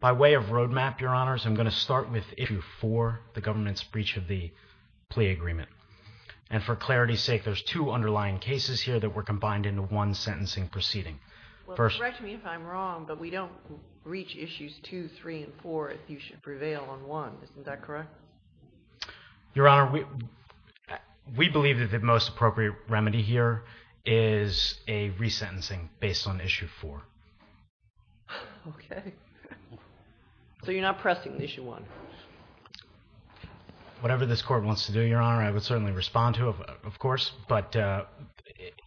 By way of roadmap, I'm going to start with issue 4, the government's breach of the plea agreement. And for clarity's sake, there's two underlying cases here that were combined into one sentencing proceeding. Well, correct me if I'm wrong, but we don't reach issues 2, 3, and 4 if you should prevail on 1. Isn't that correct? Your Honor, we believe that the most appropriate remedy here is a resentencing based on issue 4. Okay. So you're not pressing issue 1? Whatever this court wants to do, Your Honor, I would certainly respond to, of course. But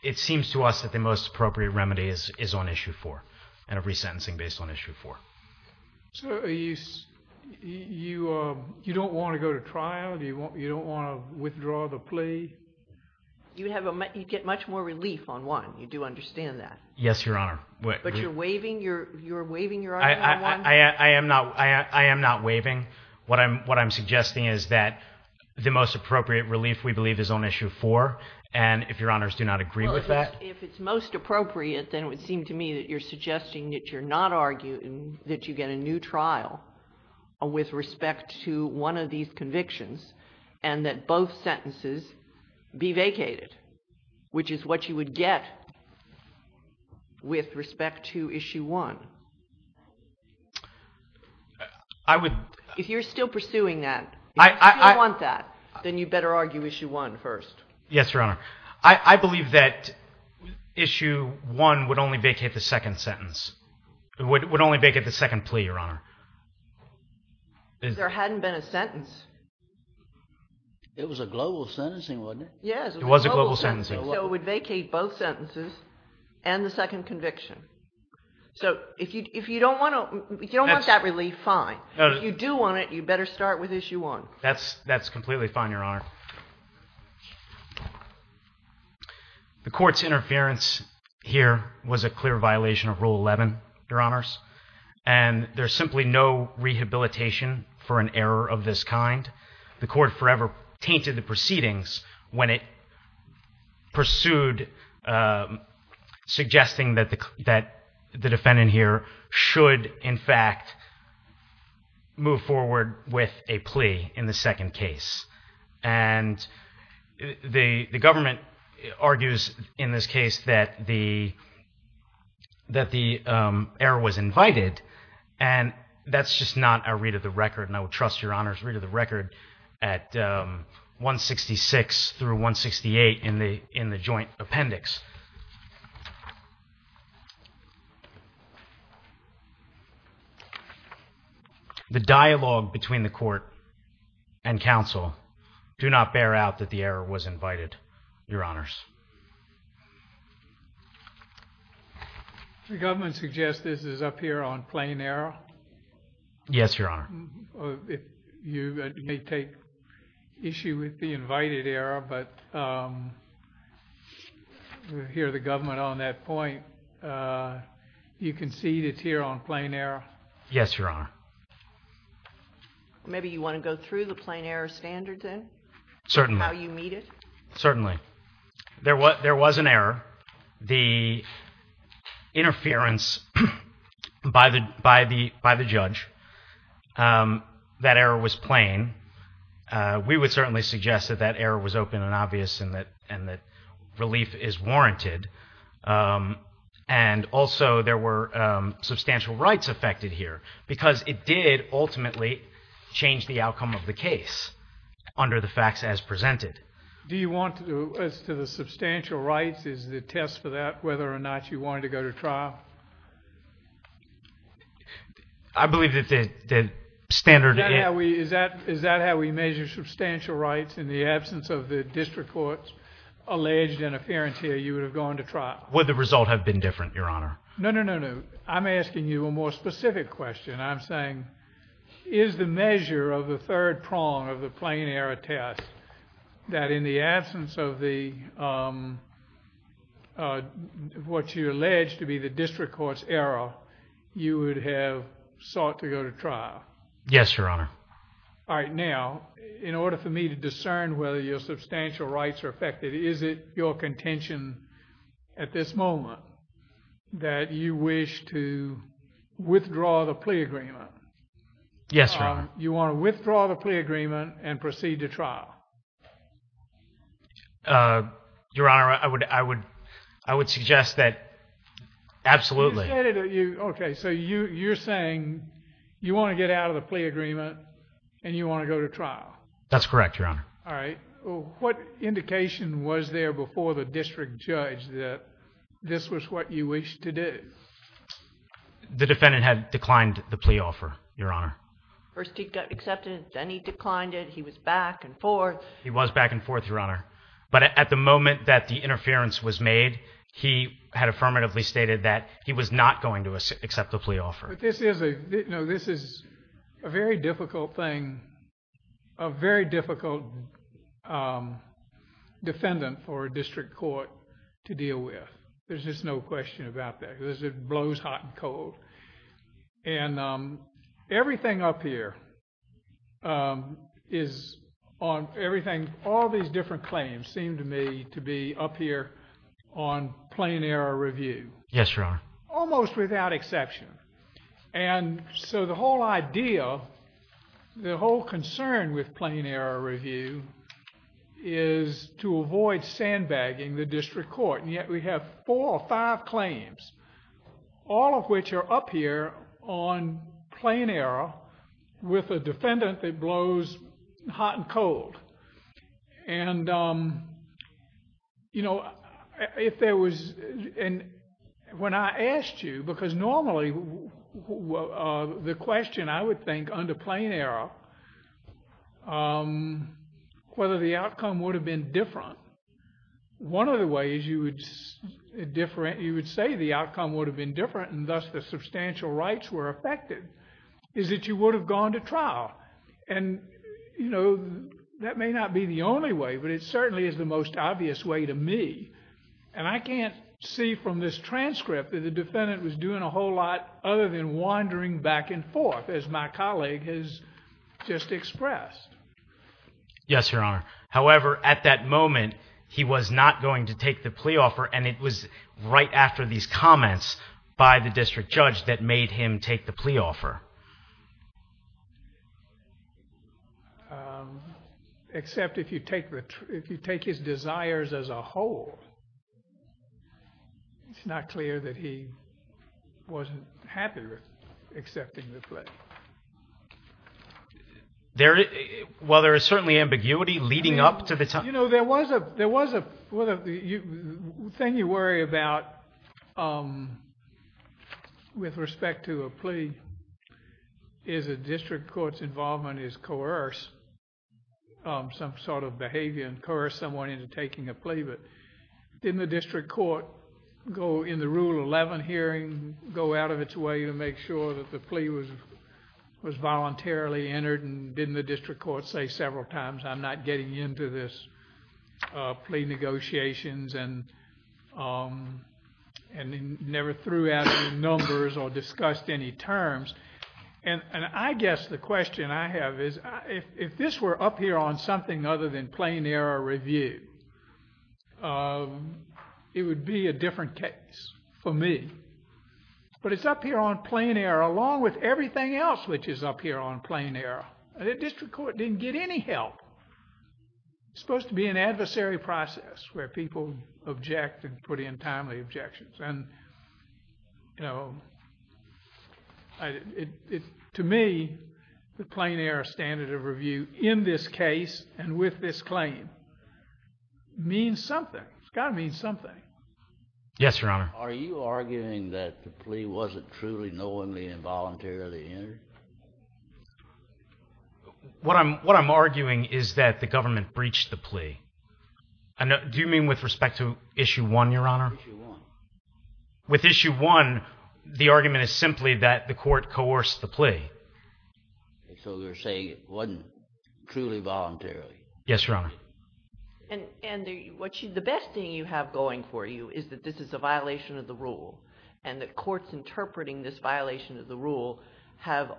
it seems to us that the most appropriate remedy is on issue 4, and a resentencing based on issue 4. So you don't want to go to trial? You don't want to withdraw the plea? You'd get much more relief on 1. You do understand that? Yes, Your Honor. But you're waiving your argument on 1? I am not waiving. What I'm suggesting is that the most appropriate relief, we believe, is on issue 4. And if Your Honors do not agree with that... Well, if it's most appropriate, then it would seem to me that you're suggesting that you're not arguing that you get a new trial with respect to one of these convictions, and that both sentences be vacated, which is what you would get with respect to issue 1. If you're still pursuing that, if you still want that, then you better argue issue 1 first. Yes, Your Honor. I believe that issue 1 would only vacate the second sentence. It would only vacate the second plea, Your Honor. There hadn't been a sentence. It was a global sentencing, wasn't it? Yes. It was a global sentencing. So it would vacate both sentences and the second conviction. So if you don't want that relief, fine. If you do want it, you better start with issue 1. That's completely fine, Your Honor. The Court's interference here was a clear violation of pro-rehabilitation for an error of this kind. The Court forever tainted the proceedings when it pursued suggesting that the defendant here should, in fact, move forward with a plea in the second case. And the government argues in this case that the error was invited, and that's just not a read of the record, and I would trust Your Honor's read of the record at 166 through 168 in the joint appendix. The dialogue between the Court and counsel do not bear out that the error was invited, Your Honors. The government suggests this is up here on plain error? Yes, Your Honor. You may take issue with the invited error, but we hear the government on that point. You concede it's here on plain error? Yes, Your Honor. Maybe you want to go through the plain error standard, then? Certainly. How you meet it? Certainly. There was an error. The interference by the judge, that error was plain. We would certainly suggest that that error was open and obvious, and that relief is warranted. And also, there were substantial rights affected here, because it did ultimately change the outcome of the case under the facts as presented. Do you want to, as to the substantial rights, is the test for that whether or not you wanted to go to trial? I believe that the standard... Is that how we measure substantial rights in the absence of the district court's alleged interference here, you would have gone to trial? Would the result have been different, Your Honor? No, no, no, no. I'm asking you a more specific question. I'm saying, is the measure of the plain error test, that in the absence of what you allege to be the district court's error, you would have sought to go to trial? Yes, Your Honor. All right. Now, in order for me to discern whether your substantial rights are affected, is it your contention at this moment that you wish to withdraw the plea agreement? Yes, Your Honor. You want to withdraw the plea agreement and proceed to trial? Your Honor, I would suggest that absolutely. Okay, so you're saying you want to get out of the plea agreement and you want to go to trial? That's correct, Your Honor. All right. What indication was there before the district judge that this was what you wished to do? The defendant had declined the plea offer, Your Honor. First he got accepted, then he declined it. He was back and forth. He was back and forth, Your Honor. But at the moment that the interference was made, he had affirmatively stated that he was not going to accept the plea offer. This is a very difficult thing, a very difficult defendant for a district court to deal with. There's just no question about that because it blows hot and cold. Everything up here is on... all these different claims seem to me to be up here on plain error review. Yes, Your Honor. Almost without exception. The whole idea, the whole concern with plain error review is to avoid sandbagging the district court, and yet we have four or five claims, all of which are up here on plain error with a defendant that blows hot and cold. When I asked you, because normally the question I would think under plain error, whether the outcome would have been different, one of the ways you would say the outcome would have been different and thus the substantial rights were affected, is that you would have gone to trial. That may not be the only way, but it certainly is the most obvious way to me. I can't see from this transcript that the defendant was doing a whole lot other than wandering back Yes, Your Honor. However, at that moment, he was not going to take the plea offer, and it was right after these comments by the district judge that made him take the plea offer. Except if you take his desires as a whole, it's not clear that he wasn't happy with accepting the plea. While there is certainly ambiguity leading up to the time... The thing you worry about with respect to a plea is a district court's involvement is coerce, some sort of behavior and coerce someone into taking a plea, but didn't the district court in the Rule 11 hearing go out of its way to make sure that the plea was voluntarily entered, and didn't the district court say several times, I'm not getting into this plea negotiations, and never threw out any numbers or discussed any terms? I guess the question I have is, if this were up here on something other than plain error review, it would be a different case for me. But it's up here on plain error along with everything else which is up here on plain error. The district court didn't get any help. It's supposed to be an adversary process where people object and put in timely objections. To me, the plain error standard of review in this case and with this claim means something. It's got to mean something. Yes, Your Honor. Are you arguing that the plea wasn't truly knowingly and voluntarily entered? What I'm arguing is that the government breached the plea. Do you mean with respect to Issue 1, Your Honor? Issue 1. With Issue 1, the argument is simply that the court coerced the plea. So you're saying it wasn't truly voluntarily? Yes, Your Honor. The best thing you have going for you is that this is a violation of the rule and the courts interpreting this violation of the rule have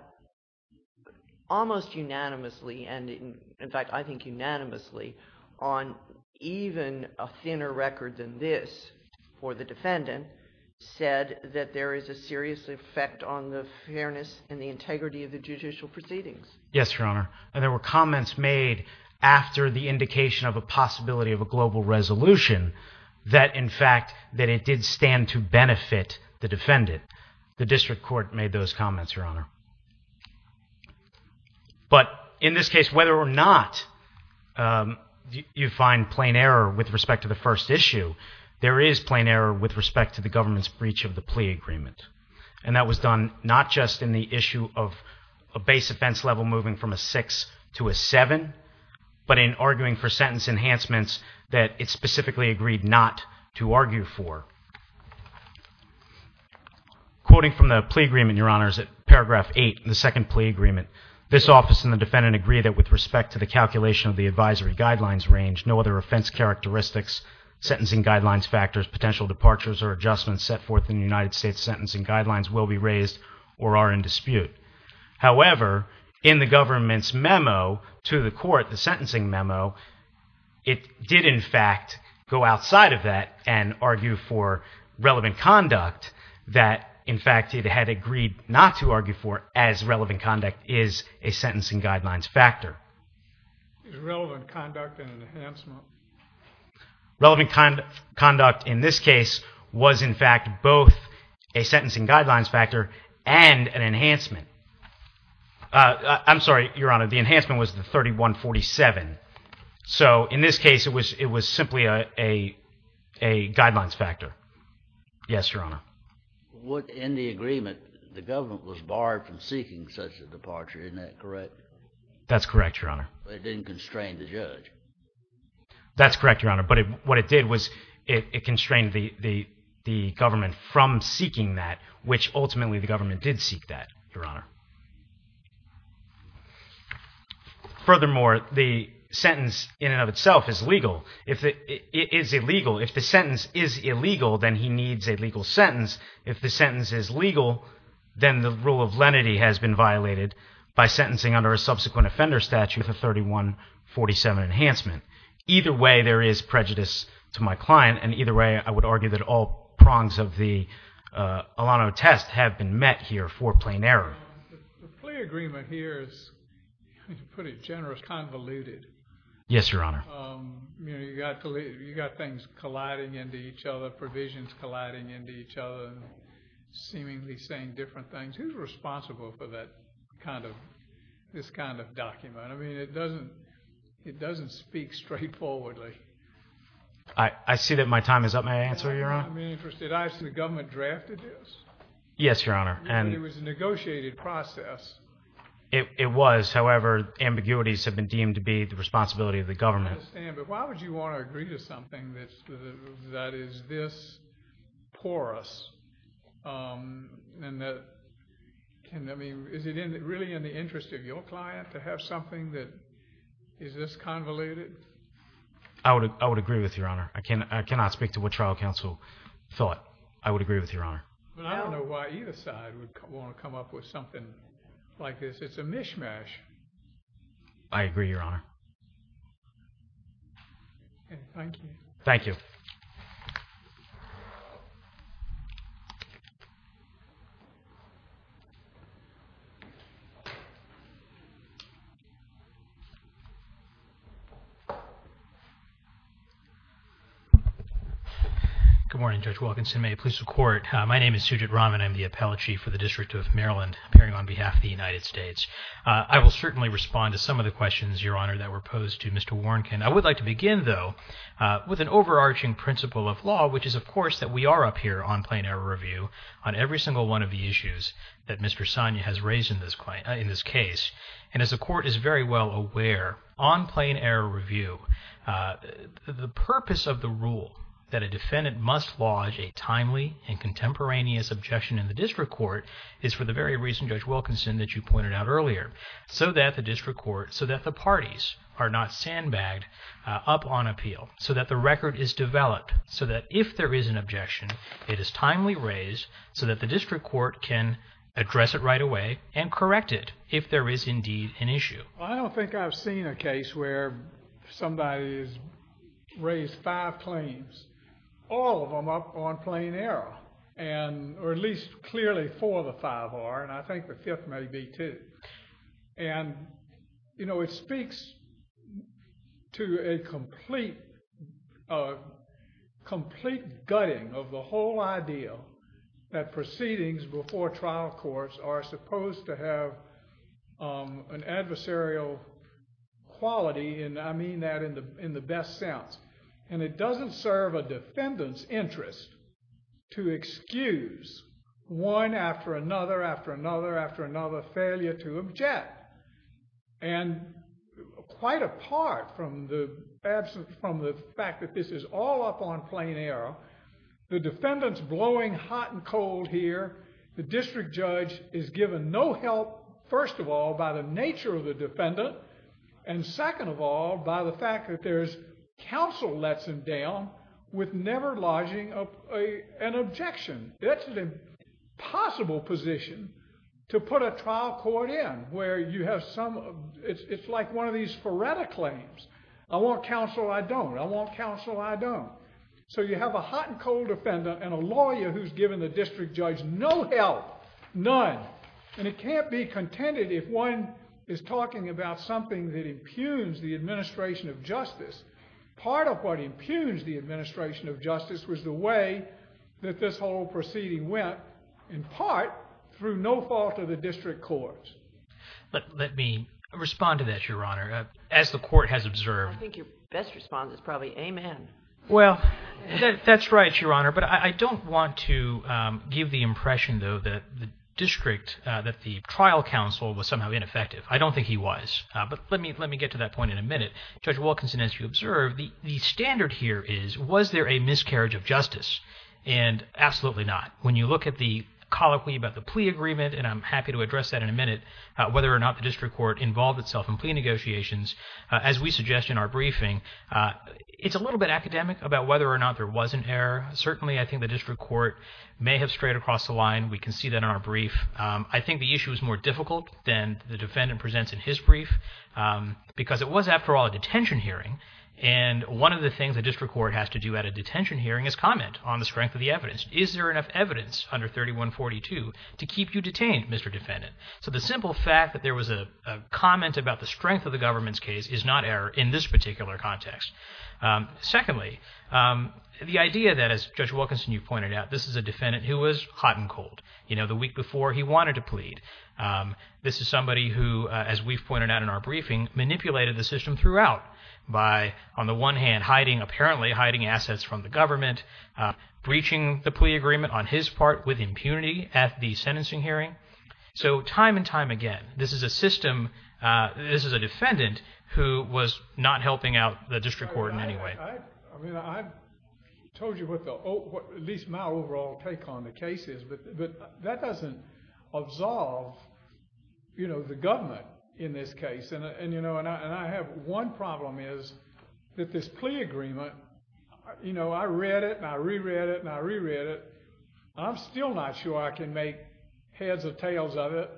almost unanimously and, in fact, I think unanimously on even a thinner record than this for the defendant said that there is a serious effect on the fairness and the integrity of the judicial proceedings. Yes, Your Honor. And there were comments made after the indication of a possibility of a global resolution that, in fact, that it did stand to benefit the defendant. The district court made those comments, Your Honor. But in this case, whether or not you find plain error with respect to the first issue, there is plain error with respect to the government's breach of the plea agreement. And that was done not just in the issue of a base offense level moving from a 6 to a 7, but in arguing for sentence enhancements that it specifically agreed not to argue for. Quoting from the plea agreement, Your Honor, is at paragraph 8, the second plea agreement, this office and the defendant agree that with respect to the calculation of the advisory guidelines range, no other offense characteristics, sentencing guidelines factors, potential departures or adjustments set forth in the United States sentencing guidelines will be raised or are in dispute. However, in the government's memo to the court, the sentencing memo, it did, in fact, go outside of that and argue for relevant conduct that, in fact, it had agreed not to argue for as relevant conduct is a sentencing guidelines factor. Is relevant conduct an enhancement? Relevant conduct in this case was, in fact, both a sentencing guidelines factor and an enhancement. I'm sorry, Your Honor, the enhancement was the 3147. So in this case, it was simply a guidelines factor. Yes, Your Honor. In the agreement, the government was barred from seeking such a departure. Isn't that correct? That's correct, Your Honor. But it didn't constrain the judge. That's correct, Your Honor. But what it did was it constrained the government from seeking that, which ultimately the government did seek that, Your Honor. Furthermore, the sentence in and of itself is legal. It is illegal. If the sentence is illegal, then he needs a legal sentence. If the sentence is legal, then the rule of lenity has been violated by sentencing under a subsequent offender statute, the 3147 enhancement. Either way, there is prejudice to my client, and either way, I would argue that all prongs of the Alano test have been met here for plain error. The plea agreement here is pretty generous, convoluted. Yes, Your Honor. You've got things colliding into each other, provisions colliding into each other, seemingly saying different things. Who's responsible for this kind of document? I mean, it doesn't speak straightforwardly. I see that my time is up. May I answer, Your Honor? I'm interested. The government drafted this? Yes, Your Honor. It was a negotiated process. It was. However, ambiguities have been deemed to be the responsibility of the government. I understand. But why would you want to agree to something that is this porous? I mean, is it really in the interest of your client to have something that is this convoluted? I would agree with you, Your Honor. I cannot speak to what trial counsel thought. I would agree with you, Your Honor. But I don't know why either side would want to come up with something like this. It's a mishmash. I agree, Your Honor. Okay. Thank you. Thank you. Thank you. Good morning, Judge Wilkinson. May it please the Court. My name is Sujit Raman. I'm the Appellate Chief for the District of Maryland, appearing on behalf of the United States. I will certainly respond to some of the questions, Your Honor, that were posed to Mr. Warnken. I would like to begin, though, with an overarching principle of law, which is, of course, that we are up here on Plain Error Review on every single one of the issues that Mr. Sonia has raised in this case. And as the Court is very well aware, on Plain Error Review, the purpose of the rule that a defendant must lodge a timely and contemporaneous objection in the district court is for the very reason, Judge Wilkinson, that you pointed out earlier, so that the district court, so that the parties are not sandbagged up on appeal, so that the record is developed, so that if there is an objection, it is timely raised so that the district court can address it right away and correct it if there is indeed an issue. Well, I don't think I've seen a case where somebody has raised five claims, all of them up on Plain Error, or at least clearly four of the five are, and I think the fifth may be, too. And, you know, it speaks to a complete gutting of the whole idea that proceedings before trial courts are supposed to have an adversarial quality, and I mean that in the best sense. And it doesn't serve a defendant's interest to excuse one after another after another after another failure to object. And quite apart from the fact that this is all up on Plain Error, the defendant's blowing hot and cold here. The district judge is given no help, first of all, by the nature of the defendant, and second of all, by the fact that there's counsel lets him down with never lodging an objection. It's an impossible position to put a trial court in where you have some, it's like one of these Faretta claims. I want counsel, I don't. I want counsel, I don't. So you have a hot and cold defendant and a lawyer who's given the district judge no help, none. And it can't be contended if one is talking about something that impugns the administration of justice. Part of what impugns the administration of justice was the way that this whole proceeding went, in part through no fault of the district courts. But let me respond to that, Your Honor. As the court has observed... I think your best response is probably, Amen. Well, that's right, Your Honor. But I don't want to give the impression, though, that the district, that the trial counsel was somehow ineffective. I don't think he was. But let me get to that point in a minute. Judge Wilkinson, as you observe, the standard here is, was there a miscarriage of justice? And absolutely not. When you look at the colloquy about the plea agreement, and I'm happy to address that in a minute, whether or not the district court involved itself in plea negotiations, as we suggest in our briefing, it's a little bit academic about whether or not there was an error. Certainly I think the district court may have strayed across the line. We can see that in our brief. I think the issue is more difficult than the defendant presents in his brief because it was, after all, a detention hearing. And one of the things a district court has to do at a detention hearing is comment on the strength of the evidence. Is there enough evidence under 3142 to keep you detained, Mr. Defendant? So the simple fact that there was a comment about the strength of the government's case is not error in this particular context. Secondly, the idea that, as Judge Wilkinson, you pointed out, this is a defendant who was hot and cold the week before he wanted to plead. This is somebody who, as we've pointed out in our briefing, manipulated the system throughout by, on the one hand, apparently hiding assets from the government, breaching the plea agreement on his part with impunity at the sentencing hearing. So time and time again, this is a system, this is a defendant who was not helping out the district court in any way. I've told you what at least my overall take on the case is, but that doesn't absolve the government in this case. And I have one problem is that this plea agreement, I read it and I reread it and I reread it. I'm still not sure I can make heads or tails of it,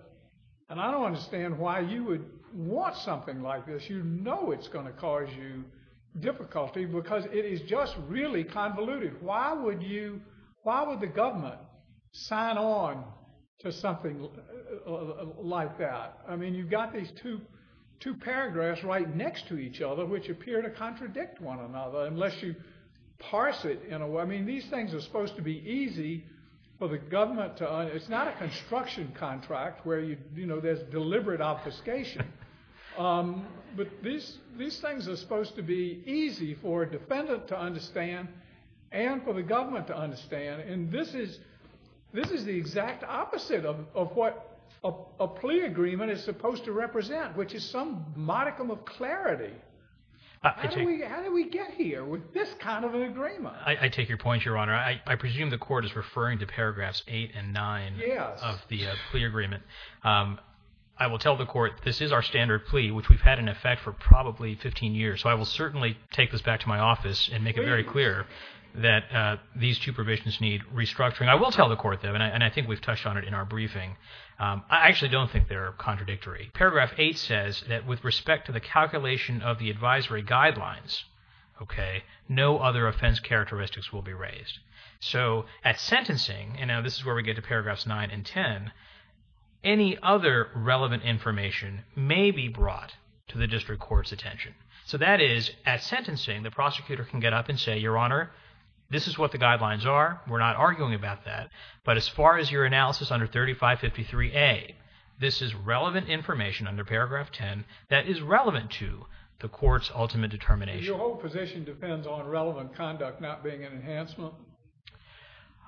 and I don't understand why you would want something like this. You know it's going to cause you difficulty because it is just really convoluted. Why would the government sign on to something like that? I mean you've got these two paragraphs right next to each other which appear to contradict one another unless you parse it. I mean these things are supposed to be easy for the government to understand. It's not a construction contract where there's deliberate obfuscation. But these things are supposed to be easy for a defendant to understand and for the government to understand. And this is the exact opposite of what a plea agreement is supposed to represent, which is some modicum of clarity. How did we get here with this kind of an agreement? I take your point, Your Honor. I presume the court is referring to paragraphs 8 and 9 of the plea agreement. I will tell the court this is our standard plea, which we've had in effect for probably 15 years. So I will certainly take this back to my office and make it very clear that these two provisions need restructuring. I will tell the court that, and I think we've touched on it in our briefing. I actually don't think they're contradictory. Paragraph 8 says that with respect to the calculation of the advisory guidelines, no other offense characteristics will be raised. So at sentencing, and now this is where we get to paragraphs 9 and 10, any other relevant information may be brought to the district court's attention. So that is, at sentencing, the prosecutor can get up and say, Your Honor, this is what the guidelines are. We're not arguing about that. But as far as your analysis under 3553A, this is relevant information under paragraph 10 that is relevant to the court's ultimate determination. Your whole position depends on relevant conduct not being an enhancement?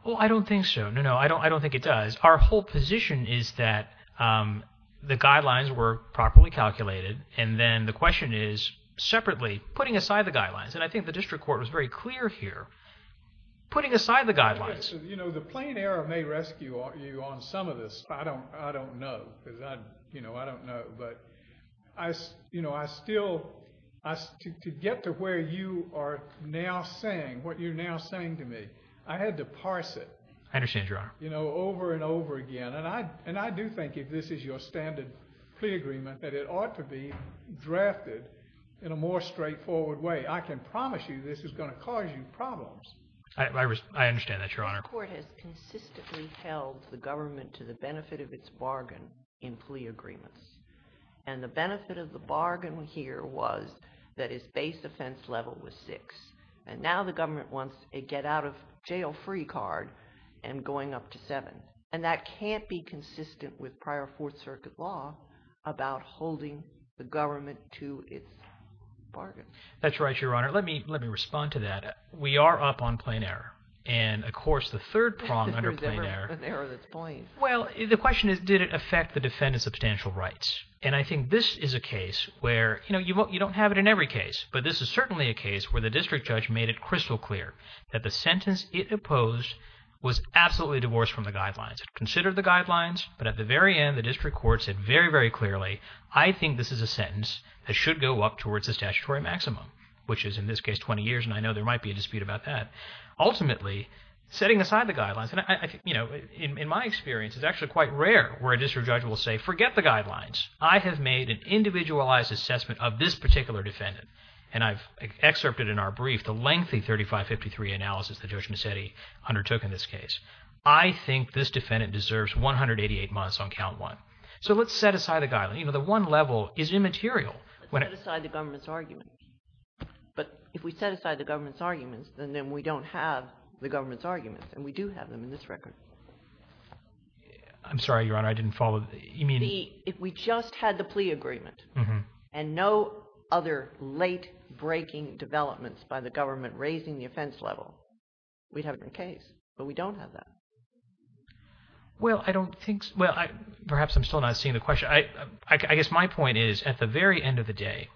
Well, I don't think so. No, no, I don't think it does. Our whole position is that the guidelines were properly calculated, and then the question is, separately, putting aside the guidelines. And I think the district court was very clear here. Putting aside the guidelines. You know, the plain error may rescue you on some of this. I don't know. You know, I don't know. But, you know, I still, to get to where you are now saying, what you're now saying to me, I had to parse it. I understand, Your Honor. You know, over and over again. And I do think if this is your standard plea agreement, that it ought to be drafted in a more straightforward way. I can promise you this is going to cause you problems. I understand that, Your Honor. The court has consistently held the government to the benefit of its bargain in plea agreements. And the benefit of the bargain here was that its base offense level was six. And now the government wants a get-out-of-jail-free card and going up to seven. And that can't be consistent with prior Fourth Circuit law about holding the government to its bargain. That's right, Your Honor. Let me respond to that. We are up on plain error. And, of course, the third prong under plain error. Well, the question is, did it affect the defendant's substantial rights? And I think this is a case where, you know, you don't have it in every case. But this is certainly a case where the district judge made it crystal clear that the sentence it opposed was absolutely divorced from the guidelines. It considered the guidelines, but at the very end, the district court said very, very clearly, I think this is a sentence that should go up towards the statutory maximum, which is in this case 20 years, and I know there might be a dispute about that. Ultimately, setting aside the guidelines, you know, in my experience, it's actually quite rare where a district judge will say, forget the guidelines. I have made an individualized assessment of this particular defendant. And I've excerpted in our brief the lengthy 3553 analysis that Judge Mazzetti undertook in this case. I think this defendant deserves 188 months on count one. So let's set aside the guidelines. You know, the one level is immaterial. Let's set aside the government's arguments. But if we set aside the government's arguments, then we don't have the government's arguments, and we do have them in this record. I'm sorry, Your Honor. I didn't follow. If we just had the plea agreement and no other late-breaking developments by the government raising the offense level, we'd have it in case, but we don't have that. Well, I don't think so. Well, perhaps I'm still not seeing the question. I guess my point is at the very end of the day,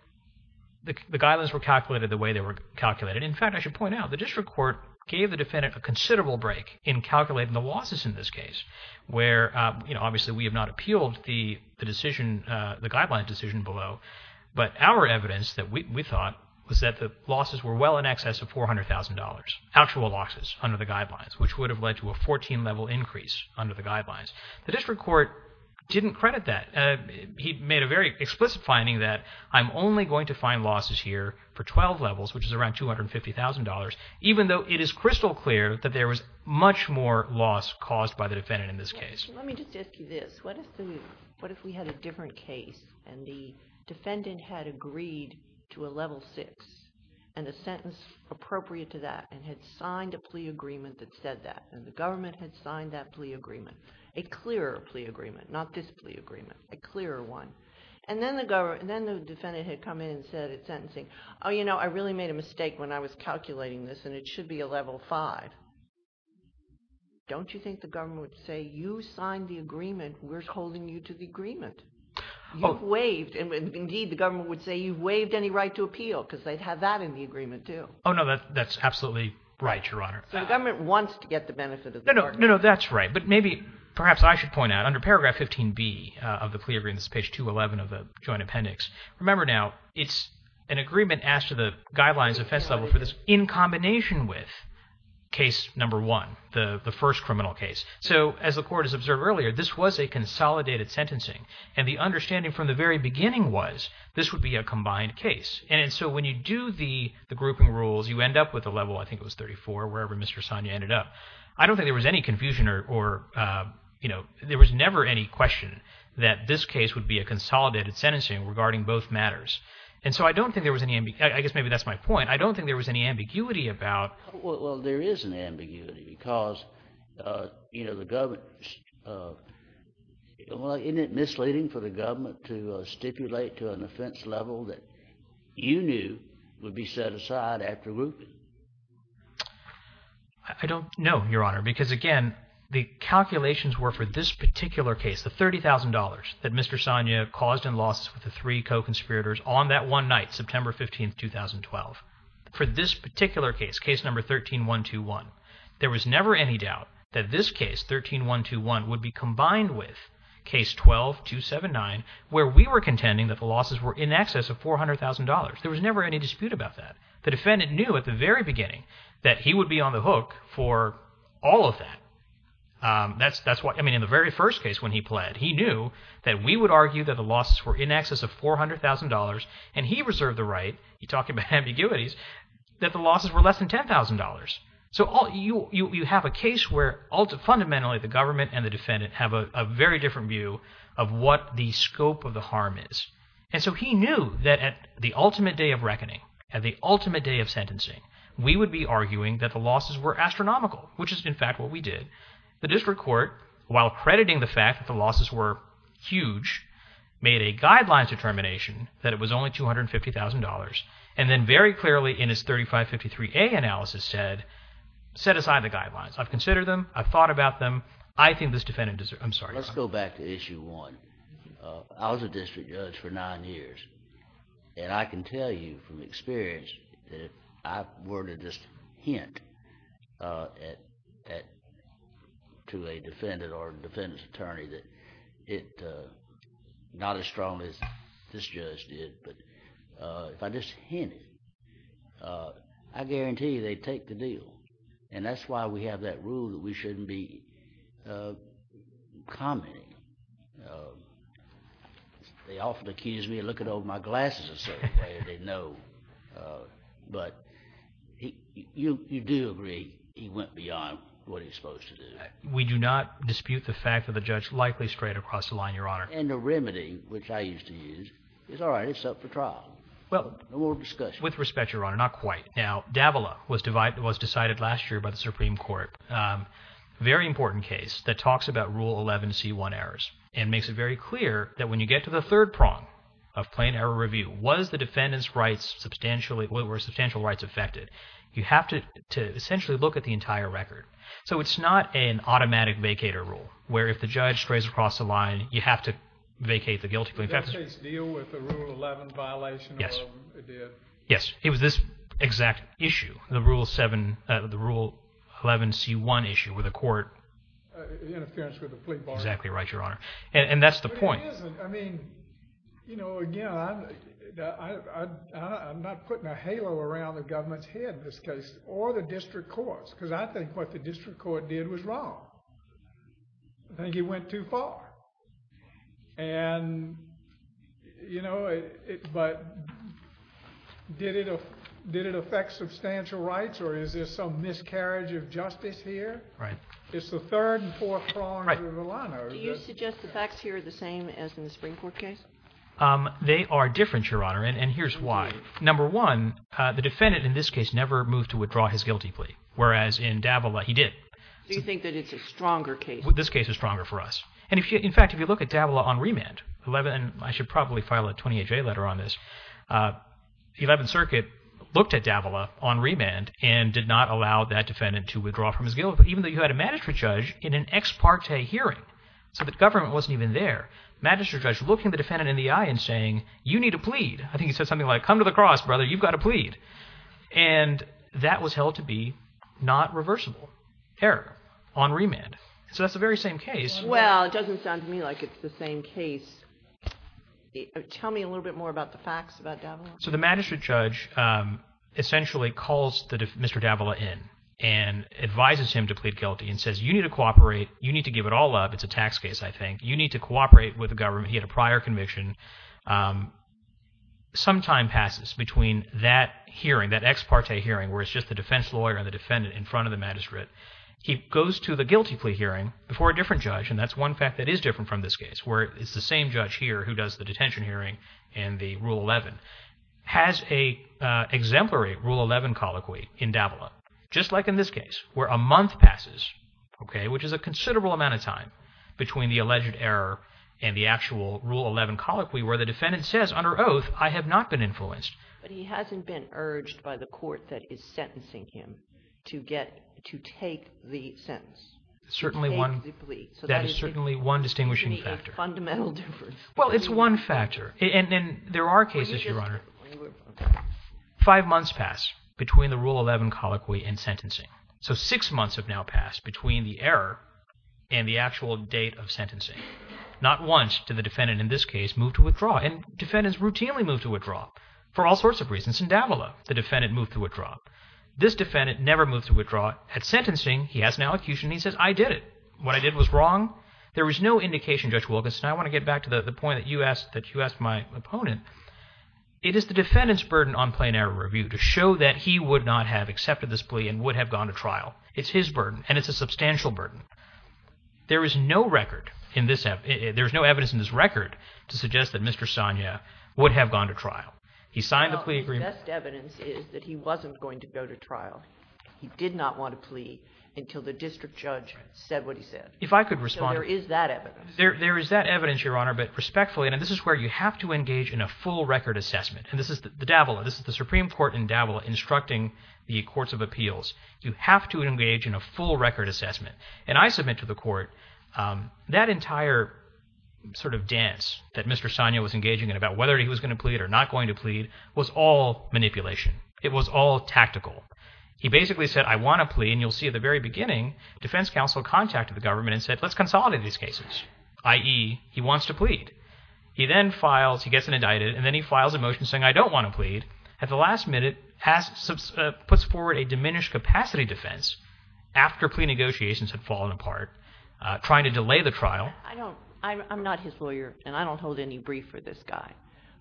the guidelines were calculated the way they were calculated. In fact, I should point out, the district court gave the defendant a considerable break in calculating the losses in this case, where obviously we have not appealed the guideline decision below, but our evidence that we thought was that the losses were well in excess of $400,000, actual losses under the guidelines, which would have led to a 14-level increase under the guidelines. The district court didn't credit that. He made a very explicit finding that I'm only going to find losses here for 12 levels, which is around $250,000, even though it is crystal clear that there was much more loss caused by the defendant in this case. Let me just ask you this. What if we had a different case, and the defendant had agreed to a level 6 and a sentence appropriate to that and had signed a plea agreement that said that, and the government had signed that plea agreement, a clearer plea agreement, not this plea agreement, a clearer one, and then the defendant had come in and said at sentencing, oh, you know, I really made a mistake when I was calculating this, and it should be a level 5. Don't you think the government would say you signed the agreement, we're holding you to the agreement? You've waived, and indeed the government would say you've waived any right to appeal because they'd have that in the agreement too. Oh, no, that's absolutely right, Your Honor. So the government wants to get the benefit of the bargain. No, no, that's right. But maybe perhaps I should point out under paragraph 15B of the plea agreement, page 211 of the joint appendix, remember now it's an agreement asked to the guidelines of offense level for this in combination with case number one, the first criminal case. So as the Court has observed earlier, this was a consolidated sentencing, and the understanding from the very beginning was this would be a combined case. And so when you do the grouping rules, you end up with a level, I think it was 34, wherever Mr. Sonia ended up. I don't think there was any confusion or, you know, there was never any question that this case would be a consolidated sentencing regarding both matters. And so I don't think there was any ambiguity. I guess maybe that's my point. I don't think there was any ambiguity about. Well, there is an ambiguity because, you know, the government, isn't it misleading for the government to stipulate to an offense level that you knew would be set aside after grouping? I don't know, Your Honor, because, again, the calculations were for this particular case, the $30,000 that Mr. Sonia caused in losses with the three co-conspirators on that one night, September 15, 2012. For this particular case, case number 13-121, there was never any doubt that this case, 13-121, would be combined with case 12-279 where we were contending that the losses were in excess of $400,000. There was never any dispute about that. The defendant knew at the very beginning that he would be on the hook for all of that. I mean, in the very first case when he pled, he knew that we would argue that the losses were in excess of $400,000, and he reserved the right, he talked about ambiguities, that the losses were less than $10,000. So you have a case where fundamentally the government and the defendant have a very different view of what the scope of the harm is. And so he knew that at the ultimate day of reckoning, at the ultimate day of sentencing, we would be arguing that the losses were astronomical, which is, in fact, what we did. The district court, while crediting the fact that the losses were huge, made a guidelines determination that it was only $250,000, and then very clearly in his 3553A analysis said, set aside the guidelines. I've considered them. I've thought about them. I think this defendant deserves it. I'm sorry, Your Honor. Let's go back to issue one. I was a district judge for nine years, and I can tell you from experience that if I were to just hint to a defendant or a defendant's attorney that it's not as strong as this judge did, but if I just hinted, I guarantee you they'd take the deal. And that's why we have that rule that we shouldn't be commenting. They often accuse me of looking over my glasses in a certain way, and they know. But you do agree he went beyond what he's supposed to do. We do not dispute the fact that the judge likely strayed across the line, Your Honor. And the remedy, which I used to use, is, all right, it's up for trial. Well, with respect, Your Honor, not quite. Now, Davila was decided last year by the Supreme Court, a very important case that talks about Rule 11 C1 errors and makes it very clear that when you get to the third prong of plain error review, was the defendant's rights substantially, were substantial rights affected? You have to essentially look at the entire record. So it's not an automatic vacator rule, where if the judge strays across the line, you have to vacate the guilty plaintiff. Did that case deal with the Rule 11 violation? Yes. It did? Yes. It was this exact issue, the Rule 11 C1 issue with the court. Interference with the plea bargain. Exactly right, Your Honor. And that's the point. No, it isn't. I mean, you know, again, I'm not putting a halo around the government's head in this case, or the district courts, because I think what the district court did was wrong. I think it went too far. And, you know, but did it affect substantial rights, or is there some miscarriage of justice here? Right. It's the third and fourth prongs of the line. Do you suggest the facts here are the same as in the Supreme Court case? They are different, Your Honor, and here's why. Number one, the defendant in this case never moved to withdraw his guilty plea, whereas in Davila he did. Do you think that it's a stronger case? This case is stronger for us. And, in fact, if you look at Davila on remand, and I should probably file a 28-J letter on this, the Eleventh Circuit looked at Davila on remand and did not allow that defendant to withdraw from his guilty plea, even though you had a magistrate judge in an ex parte hearing. So the government wasn't even there. Magistrate judge looking the defendant in the eye and saying, you need to plead. I think he said something like, come to the cross, brother, you've got to plead. And that was held to be not reversible error on remand. So that's the very same case. Well, it doesn't sound to me like it's the same case. Tell me a little bit more about the facts about Davila. So the magistrate judge essentially calls Mr. Davila in and advises him to plead guilty and says, you need to cooperate. You need to give it all up. It's a tax case, I think. You need to cooperate with the government. He had a prior conviction. Some time passes between that hearing, that ex parte hearing, where it's just the defense lawyer and the defendant in front of the magistrate. He goes to the guilty plea hearing before a different judge, and that's one fact that is different from this case, where it's the same judge here who does the detention hearing and the Rule 11. It has an exemplary Rule 11 colloquy in Davila, just like in this case, where a month passes, which is a considerable amount of time, between the alleged error and the actual Rule 11 colloquy where the defendant says under oath, I have not been influenced. But he hasn't been urged by the court that is sentencing him to take the sentence. That is certainly one distinguishing factor. It's a fundamental difference. Well, it's one factor. And there are cases, Your Honor, five months pass between the Rule 11 colloquy and sentencing. So six months have now passed between the error and the actual date of sentencing. Not once did the defendant in this case move to withdraw, and defendants routinely move to withdraw for all sorts of reasons. In Davila, the defendant moved to withdraw. This defendant never moved to withdraw. At sentencing, he has an elocution. He says, I did it. What I did was wrong. There was no indication, Judge Wilkinson. I want to get back to the point that you asked my opponent. It is the defendant's burden on plain error review to show that he would not have accepted this plea and would have gone to trial. It's his burden, and it's a substantial burden. There is no record in this – there is no evidence in this record to suggest that Mr. Sonia would have gone to trial. He signed the plea agreement. Well, the best evidence is that he wasn't going to go to trial. He did not want to plea until the district judge said what he said. If I could respond. So there is that evidence. There is that evidence, Your Honor, but respectfully, and this is where you have to engage in a full record assessment. And this is Davila. This is the Supreme Court in Davila instructing the courts of appeals. You have to engage in a full record assessment. And I submit to the court that entire sort of dance that Mr. Sonia was engaging in about whether he was going to plead or not going to plead was all manipulation. It was all tactical. He basically said, I want to plea, and you'll see at the very beginning, defense counsel contacted the government and said, let's consolidate these cases, i.e., he wants to plead. He then files – he gets indicted, and then he files a motion saying, I don't want to plead. At the last minute, puts forward a diminished capacity defense after plea negotiations had fallen apart, trying to delay the trial. I'm not his lawyer, and I don't hold any brief for this guy,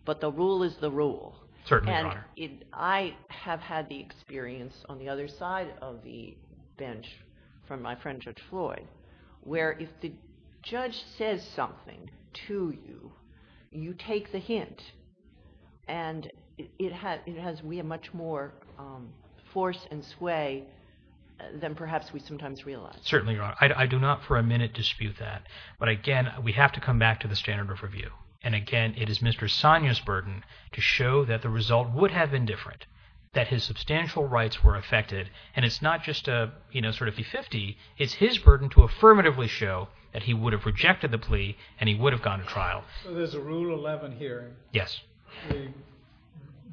but the rule is the rule. Certainly, Your Honor. And I have had the experience on the other side of the bench from my friend Judge Floyd where if the judge says something to you, you take the hint, and it has way much more force and sway than perhaps we sometimes realize. Certainly, Your Honor. I do not for a minute dispute that. But again, we have to come back to the standard of review. And again, it is Mr. Sonia's burden to show that the result would have been different, that his substantial rights were affected. And it's not just a, you know, sort of fee-fifty. It's his burden to affirmatively show that he would have rejected the plea and he would have gone to trial. So there's a Rule 11 hearing. Yes. The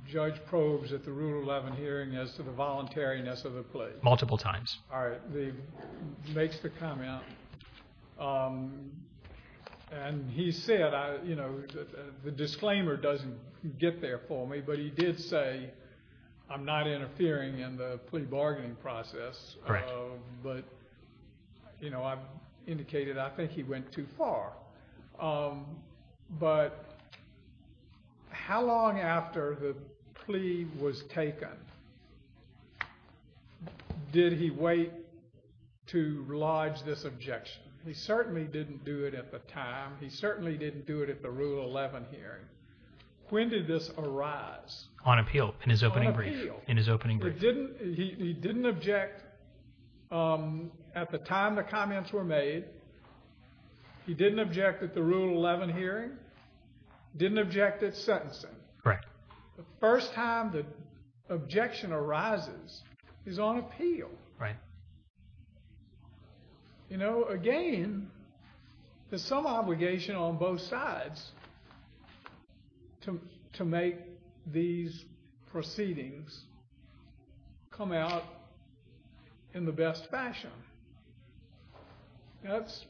judge probes at the Rule 11 hearing as to the voluntariness of the plea. Multiple times. All right. He makes the comment. And he said, you know, the disclaimer doesn't get there for me, but he did say I'm not interfering in the plea bargaining process. Correct. But, you know, I've indicated I think he went too far. But how long after the plea was taken did he wait to lodge this objection? He certainly didn't do it at the time. He certainly didn't do it at the Rule 11 hearing. When did this arise? On appeal. In his opening brief. On appeal. In his opening brief. He didn't object at the time the comments were made. He didn't object at the Rule 11 hearing. Didn't object at sentencing. Correct. The first time the objection arises is on appeal. Right. You know, again, there's some obligation on both sides to make these proceedings come out in the best fashion. That's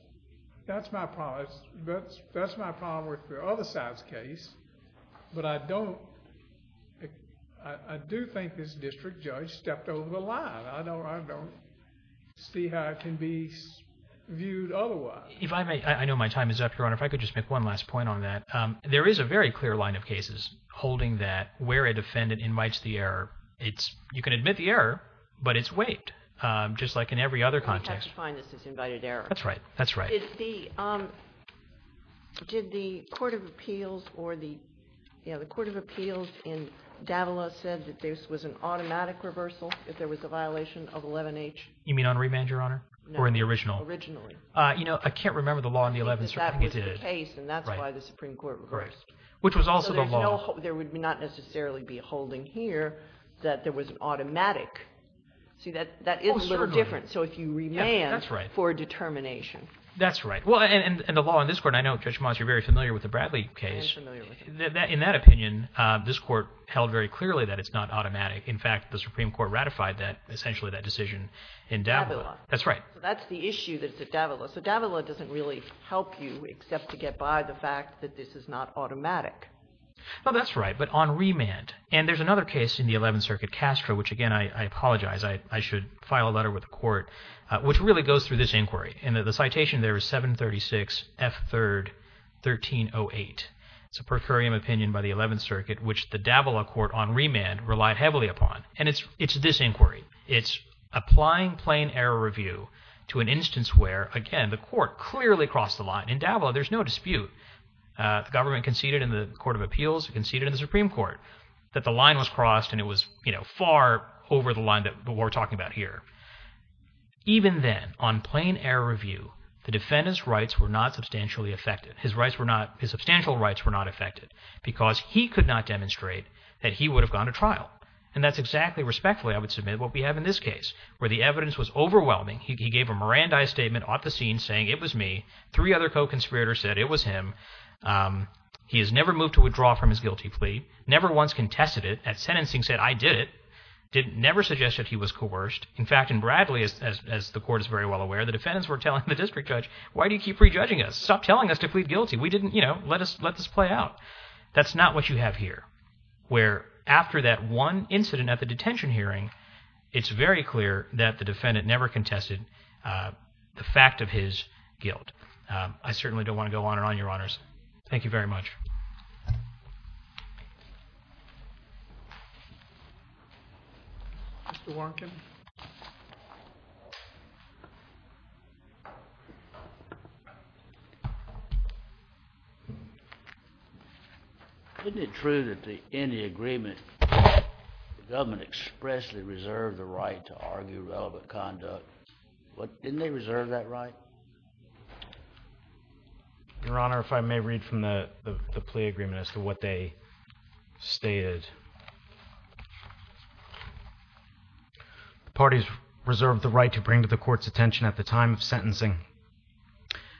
my problem. That's my problem with the other side's case. But I don't... I do think this district judge stepped over the line. I don't see how it can be viewed otherwise. If I may, I know my time is up, Your Honor. If I could just make one last point on that. There is a very clear line of cases holding that where a defendant invites the error, you can admit the error, but it's waived. Just like in every other context. You have to find this is invited error. That's right. That's right. Did the Court of Appeals in Davila say that this was an automatic reversal if there was a violation of 11H? You mean on remand, Your Honor? No. Or in the original? Originally. You know, I can't remember the law in the 11th Circuit that did it. That was the case, and that's why the Supreme Court reversed. Right. Which was also the law. There would not necessarily be a holding here that there was an automatic. See, that is a little different. Oh, certainly. So if you remand for a determination. That's right. Well, and the law in this Court, and I know, Judge Moss, you're very familiar with the Bradley case. I am familiar with it. In that opinion, this Court held very clearly that it's not automatic. In fact, the Supreme Court ratified that, essentially, that decision in Davila. Davila. That's right. That's the issue that's at Davila. So Davila doesn't really help you except to get by the fact that this is not automatic. No, that's right, but on remand. And there's another case in the 11th Circuit, Castro, which, again, I apologize. I should file a letter with the Court, which really goes through this inquiry. And the citation there is 736 F. 3rd 1308. It's a per curiam opinion by the 11th Circuit, which the Davila Court on remand relied heavily upon. And it's this inquiry. It's applying plain error review to an instance where, again, the Court clearly crossed the line. In Davila, there's no dispute. The government conceded in the Court of Appeals. It conceded in the Supreme Court that the line was crossed, and it was far over the line that we're talking about here. Even then, on plain error review, the defendant's rights were not substantially affected. His substantial rights were not affected because he could not demonstrate that he would have gone to trial. And that's exactly, respectfully, I would submit, what we have in this case, where the evidence was overwhelming. He gave a Mirandai statement off the scene saying, it was me. Three other co-conspirators said it was him. He has never moved to withdraw from his guilty plea. Never once contested it at sentencing, said, I did it. Never suggested he was coerced. In fact, in Bradley, as the Court is very well aware, the defendants were telling the district judge, why do you keep re-judging us? Stop telling us to plead guilty. We didn't, you know, let this play out. That's not what you have here, where after that one incident at the detention hearing, it's very clear that the defendant never contested the fact of his guilt. I certainly don't want to go on and on, Your Honors. Thank you very much. Thank you. Mr. Warnken. Isn't it true that in the agreement, the government expressly reserved the right to argue relevant conduct? Didn't they reserve that right? Your Honor, if I may read from the plea agreement as to what they stated. The parties reserved the right to bring to the Court's attention at the time of sentencing,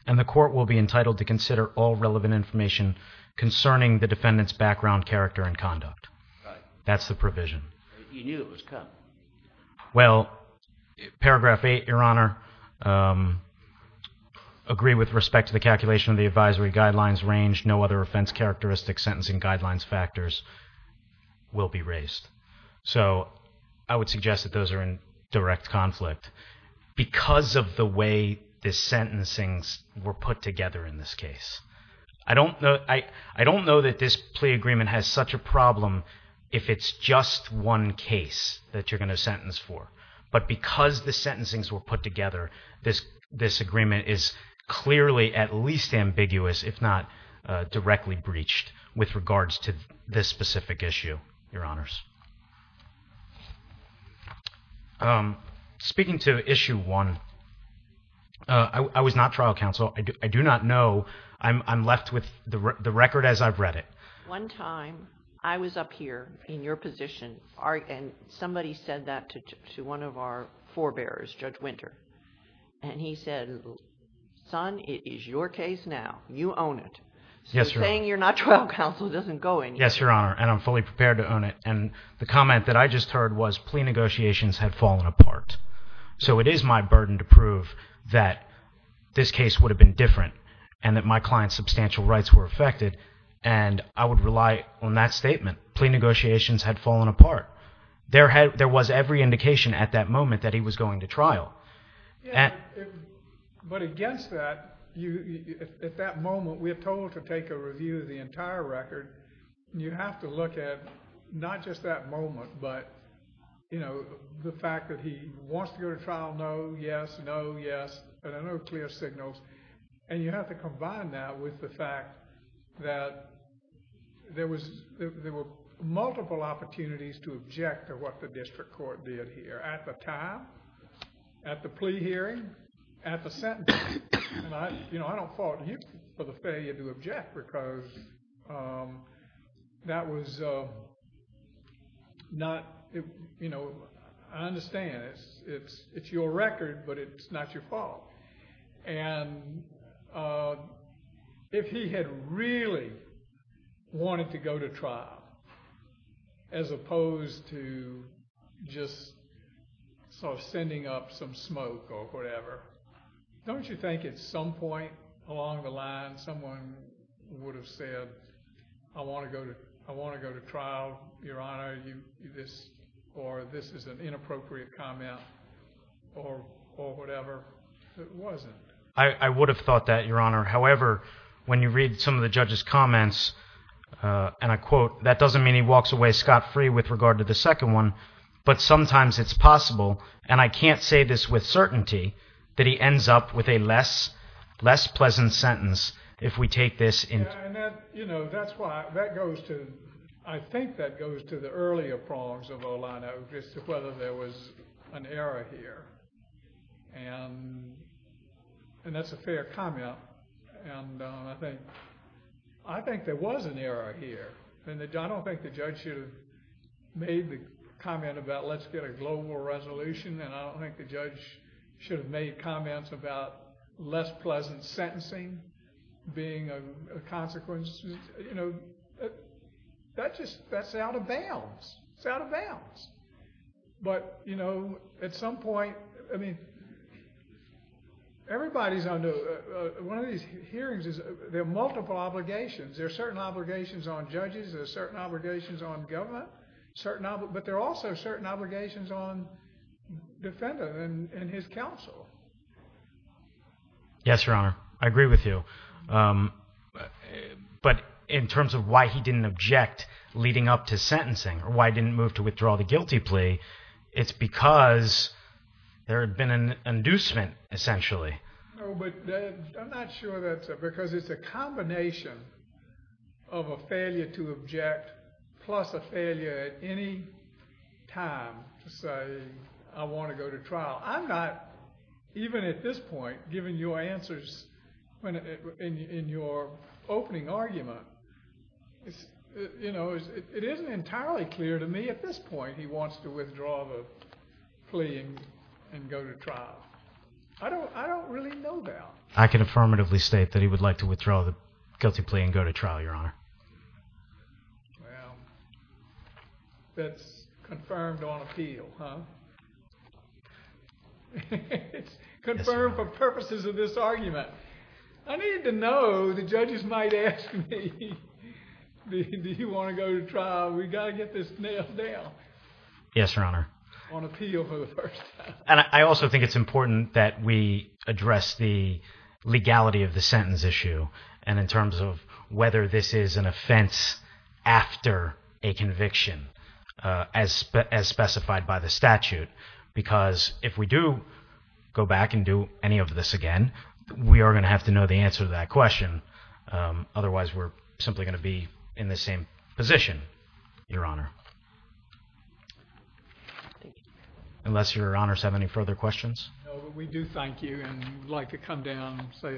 and the Court will be entitled to consider all relevant information concerning the defendant's background, character, and conduct. That's the provision. You knew it was cut. Well, paragraph 8, Your Honor, agree with respect to the calculation of the advisory guidelines range, no other offense characteristic sentencing guidelines factors will be raised. So, I would suggest that those are in direct conflict, because of the way the sentencing were put together in this case. I don't know that this plea agreement has such a problem if it's just one case that you're going to sentence for. But because the sentencings were put together, this agreement is clearly at least ambiguous, if not directly breached with regards to this specific issue, Your Honors. Speaking to issue 1, I was not trial counsel. I do not know. I'm left with the record as I've read it. One time, I was up here in your position, and somebody said that to one of our forebearers, Judge Winter. And he said, son, it is your case now. You own it. Yes, Your Honor. So, saying you're not trial counsel doesn't go anywhere. Yes, Your Honor, and I'm fully prepared to own it. And the comment that I just heard was plea negotiations had fallen apart. So, it is my burden to prove that this case would have been different and that my client's substantial rights were affected. And I would rely on that statement. Plea negotiations had fallen apart. There was every indication at that moment that he was going to trial. Yeah, but against that, at that moment, we are told to take a review of the entire record. You have to look at not just that moment, but the fact that he wants to go to trial, no, yes, no, yes. There are no clear signals. And you have to combine that with the fact that there were multiple opportunities to object to what the district court did here at the time, at the plea hearing, at the sentencing. And I don't fault him for the failure to object because that was not, you know, I understand it's your record, but it's not your fault. And if he had really wanted to go to trial, as opposed to just sort of sending up some smoke or whatever, don't you think at some point along the line, someone would have said, I want to go to trial, Your Honor, or this is an inappropriate comment, or whatever. It wasn't. I would have thought that, Your Honor. However, when you read some of the judge's comments, and I quote, that doesn't mean he walks away scot-free with regard to the second one, but sometimes it's possible, and I can't say this with certainty, that he ends up with a less pleasant sentence if we take this into account. Yeah, and that, you know, that's why, that goes to, I think that goes to the earlier prongs of Olano, as to whether there was an error here. And that's a fair comment. And I think there was an error here. I don't think the judge should have made the comment about, let's get a global resolution, and I don't think the judge should have made comments about less pleasant sentencing being a consequence. You know, that just, that's out of bounds. It's out of bounds. But, you know, at some point, I mean, everybody's under, one of these hearings is, there are multiple obligations. There are certain obligations on judges, there are certain obligations on government, but there are also certain obligations on defendants and his counsel. Yes, Your Honor. I agree with you. But in terms of why he didn't object leading up to sentencing, or why he didn't move to withdraw the guilty plea, it's because there had been an inducement, essentially. No, but I'm not sure that's, because it's a combination of a failure to object plus a failure at any time to say, I want to go to trial. I'm not, even at this point, giving you answers in your opening argument. You know, it isn't entirely clear to me at this point he wants to withdraw the plea and go to trial. I don't really know that. I can affirmatively state that he would like to withdraw the guilty plea and go to trial, Your Honor. Well, that's confirmed on appeal, huh? It's confirmed for purposes of this argument. I need to know, the judges might ask me, do you want to go to trial? We've got to get this nailed down. Yes, Your Honor. On appeal for the first time. And I also think it's important that we address the legality of the sentence issue, and in terms of whether this is an offense after a conviction, as specified by the statute. Because if we do go back and do any of this again, we are going to have to know the answer to that question. Otherwise, we're simply going to be in the same position, Your Honor. Thank you. Unless Your Honors have any further questions? No, but we do thank you, and we'd like to come down and say hello.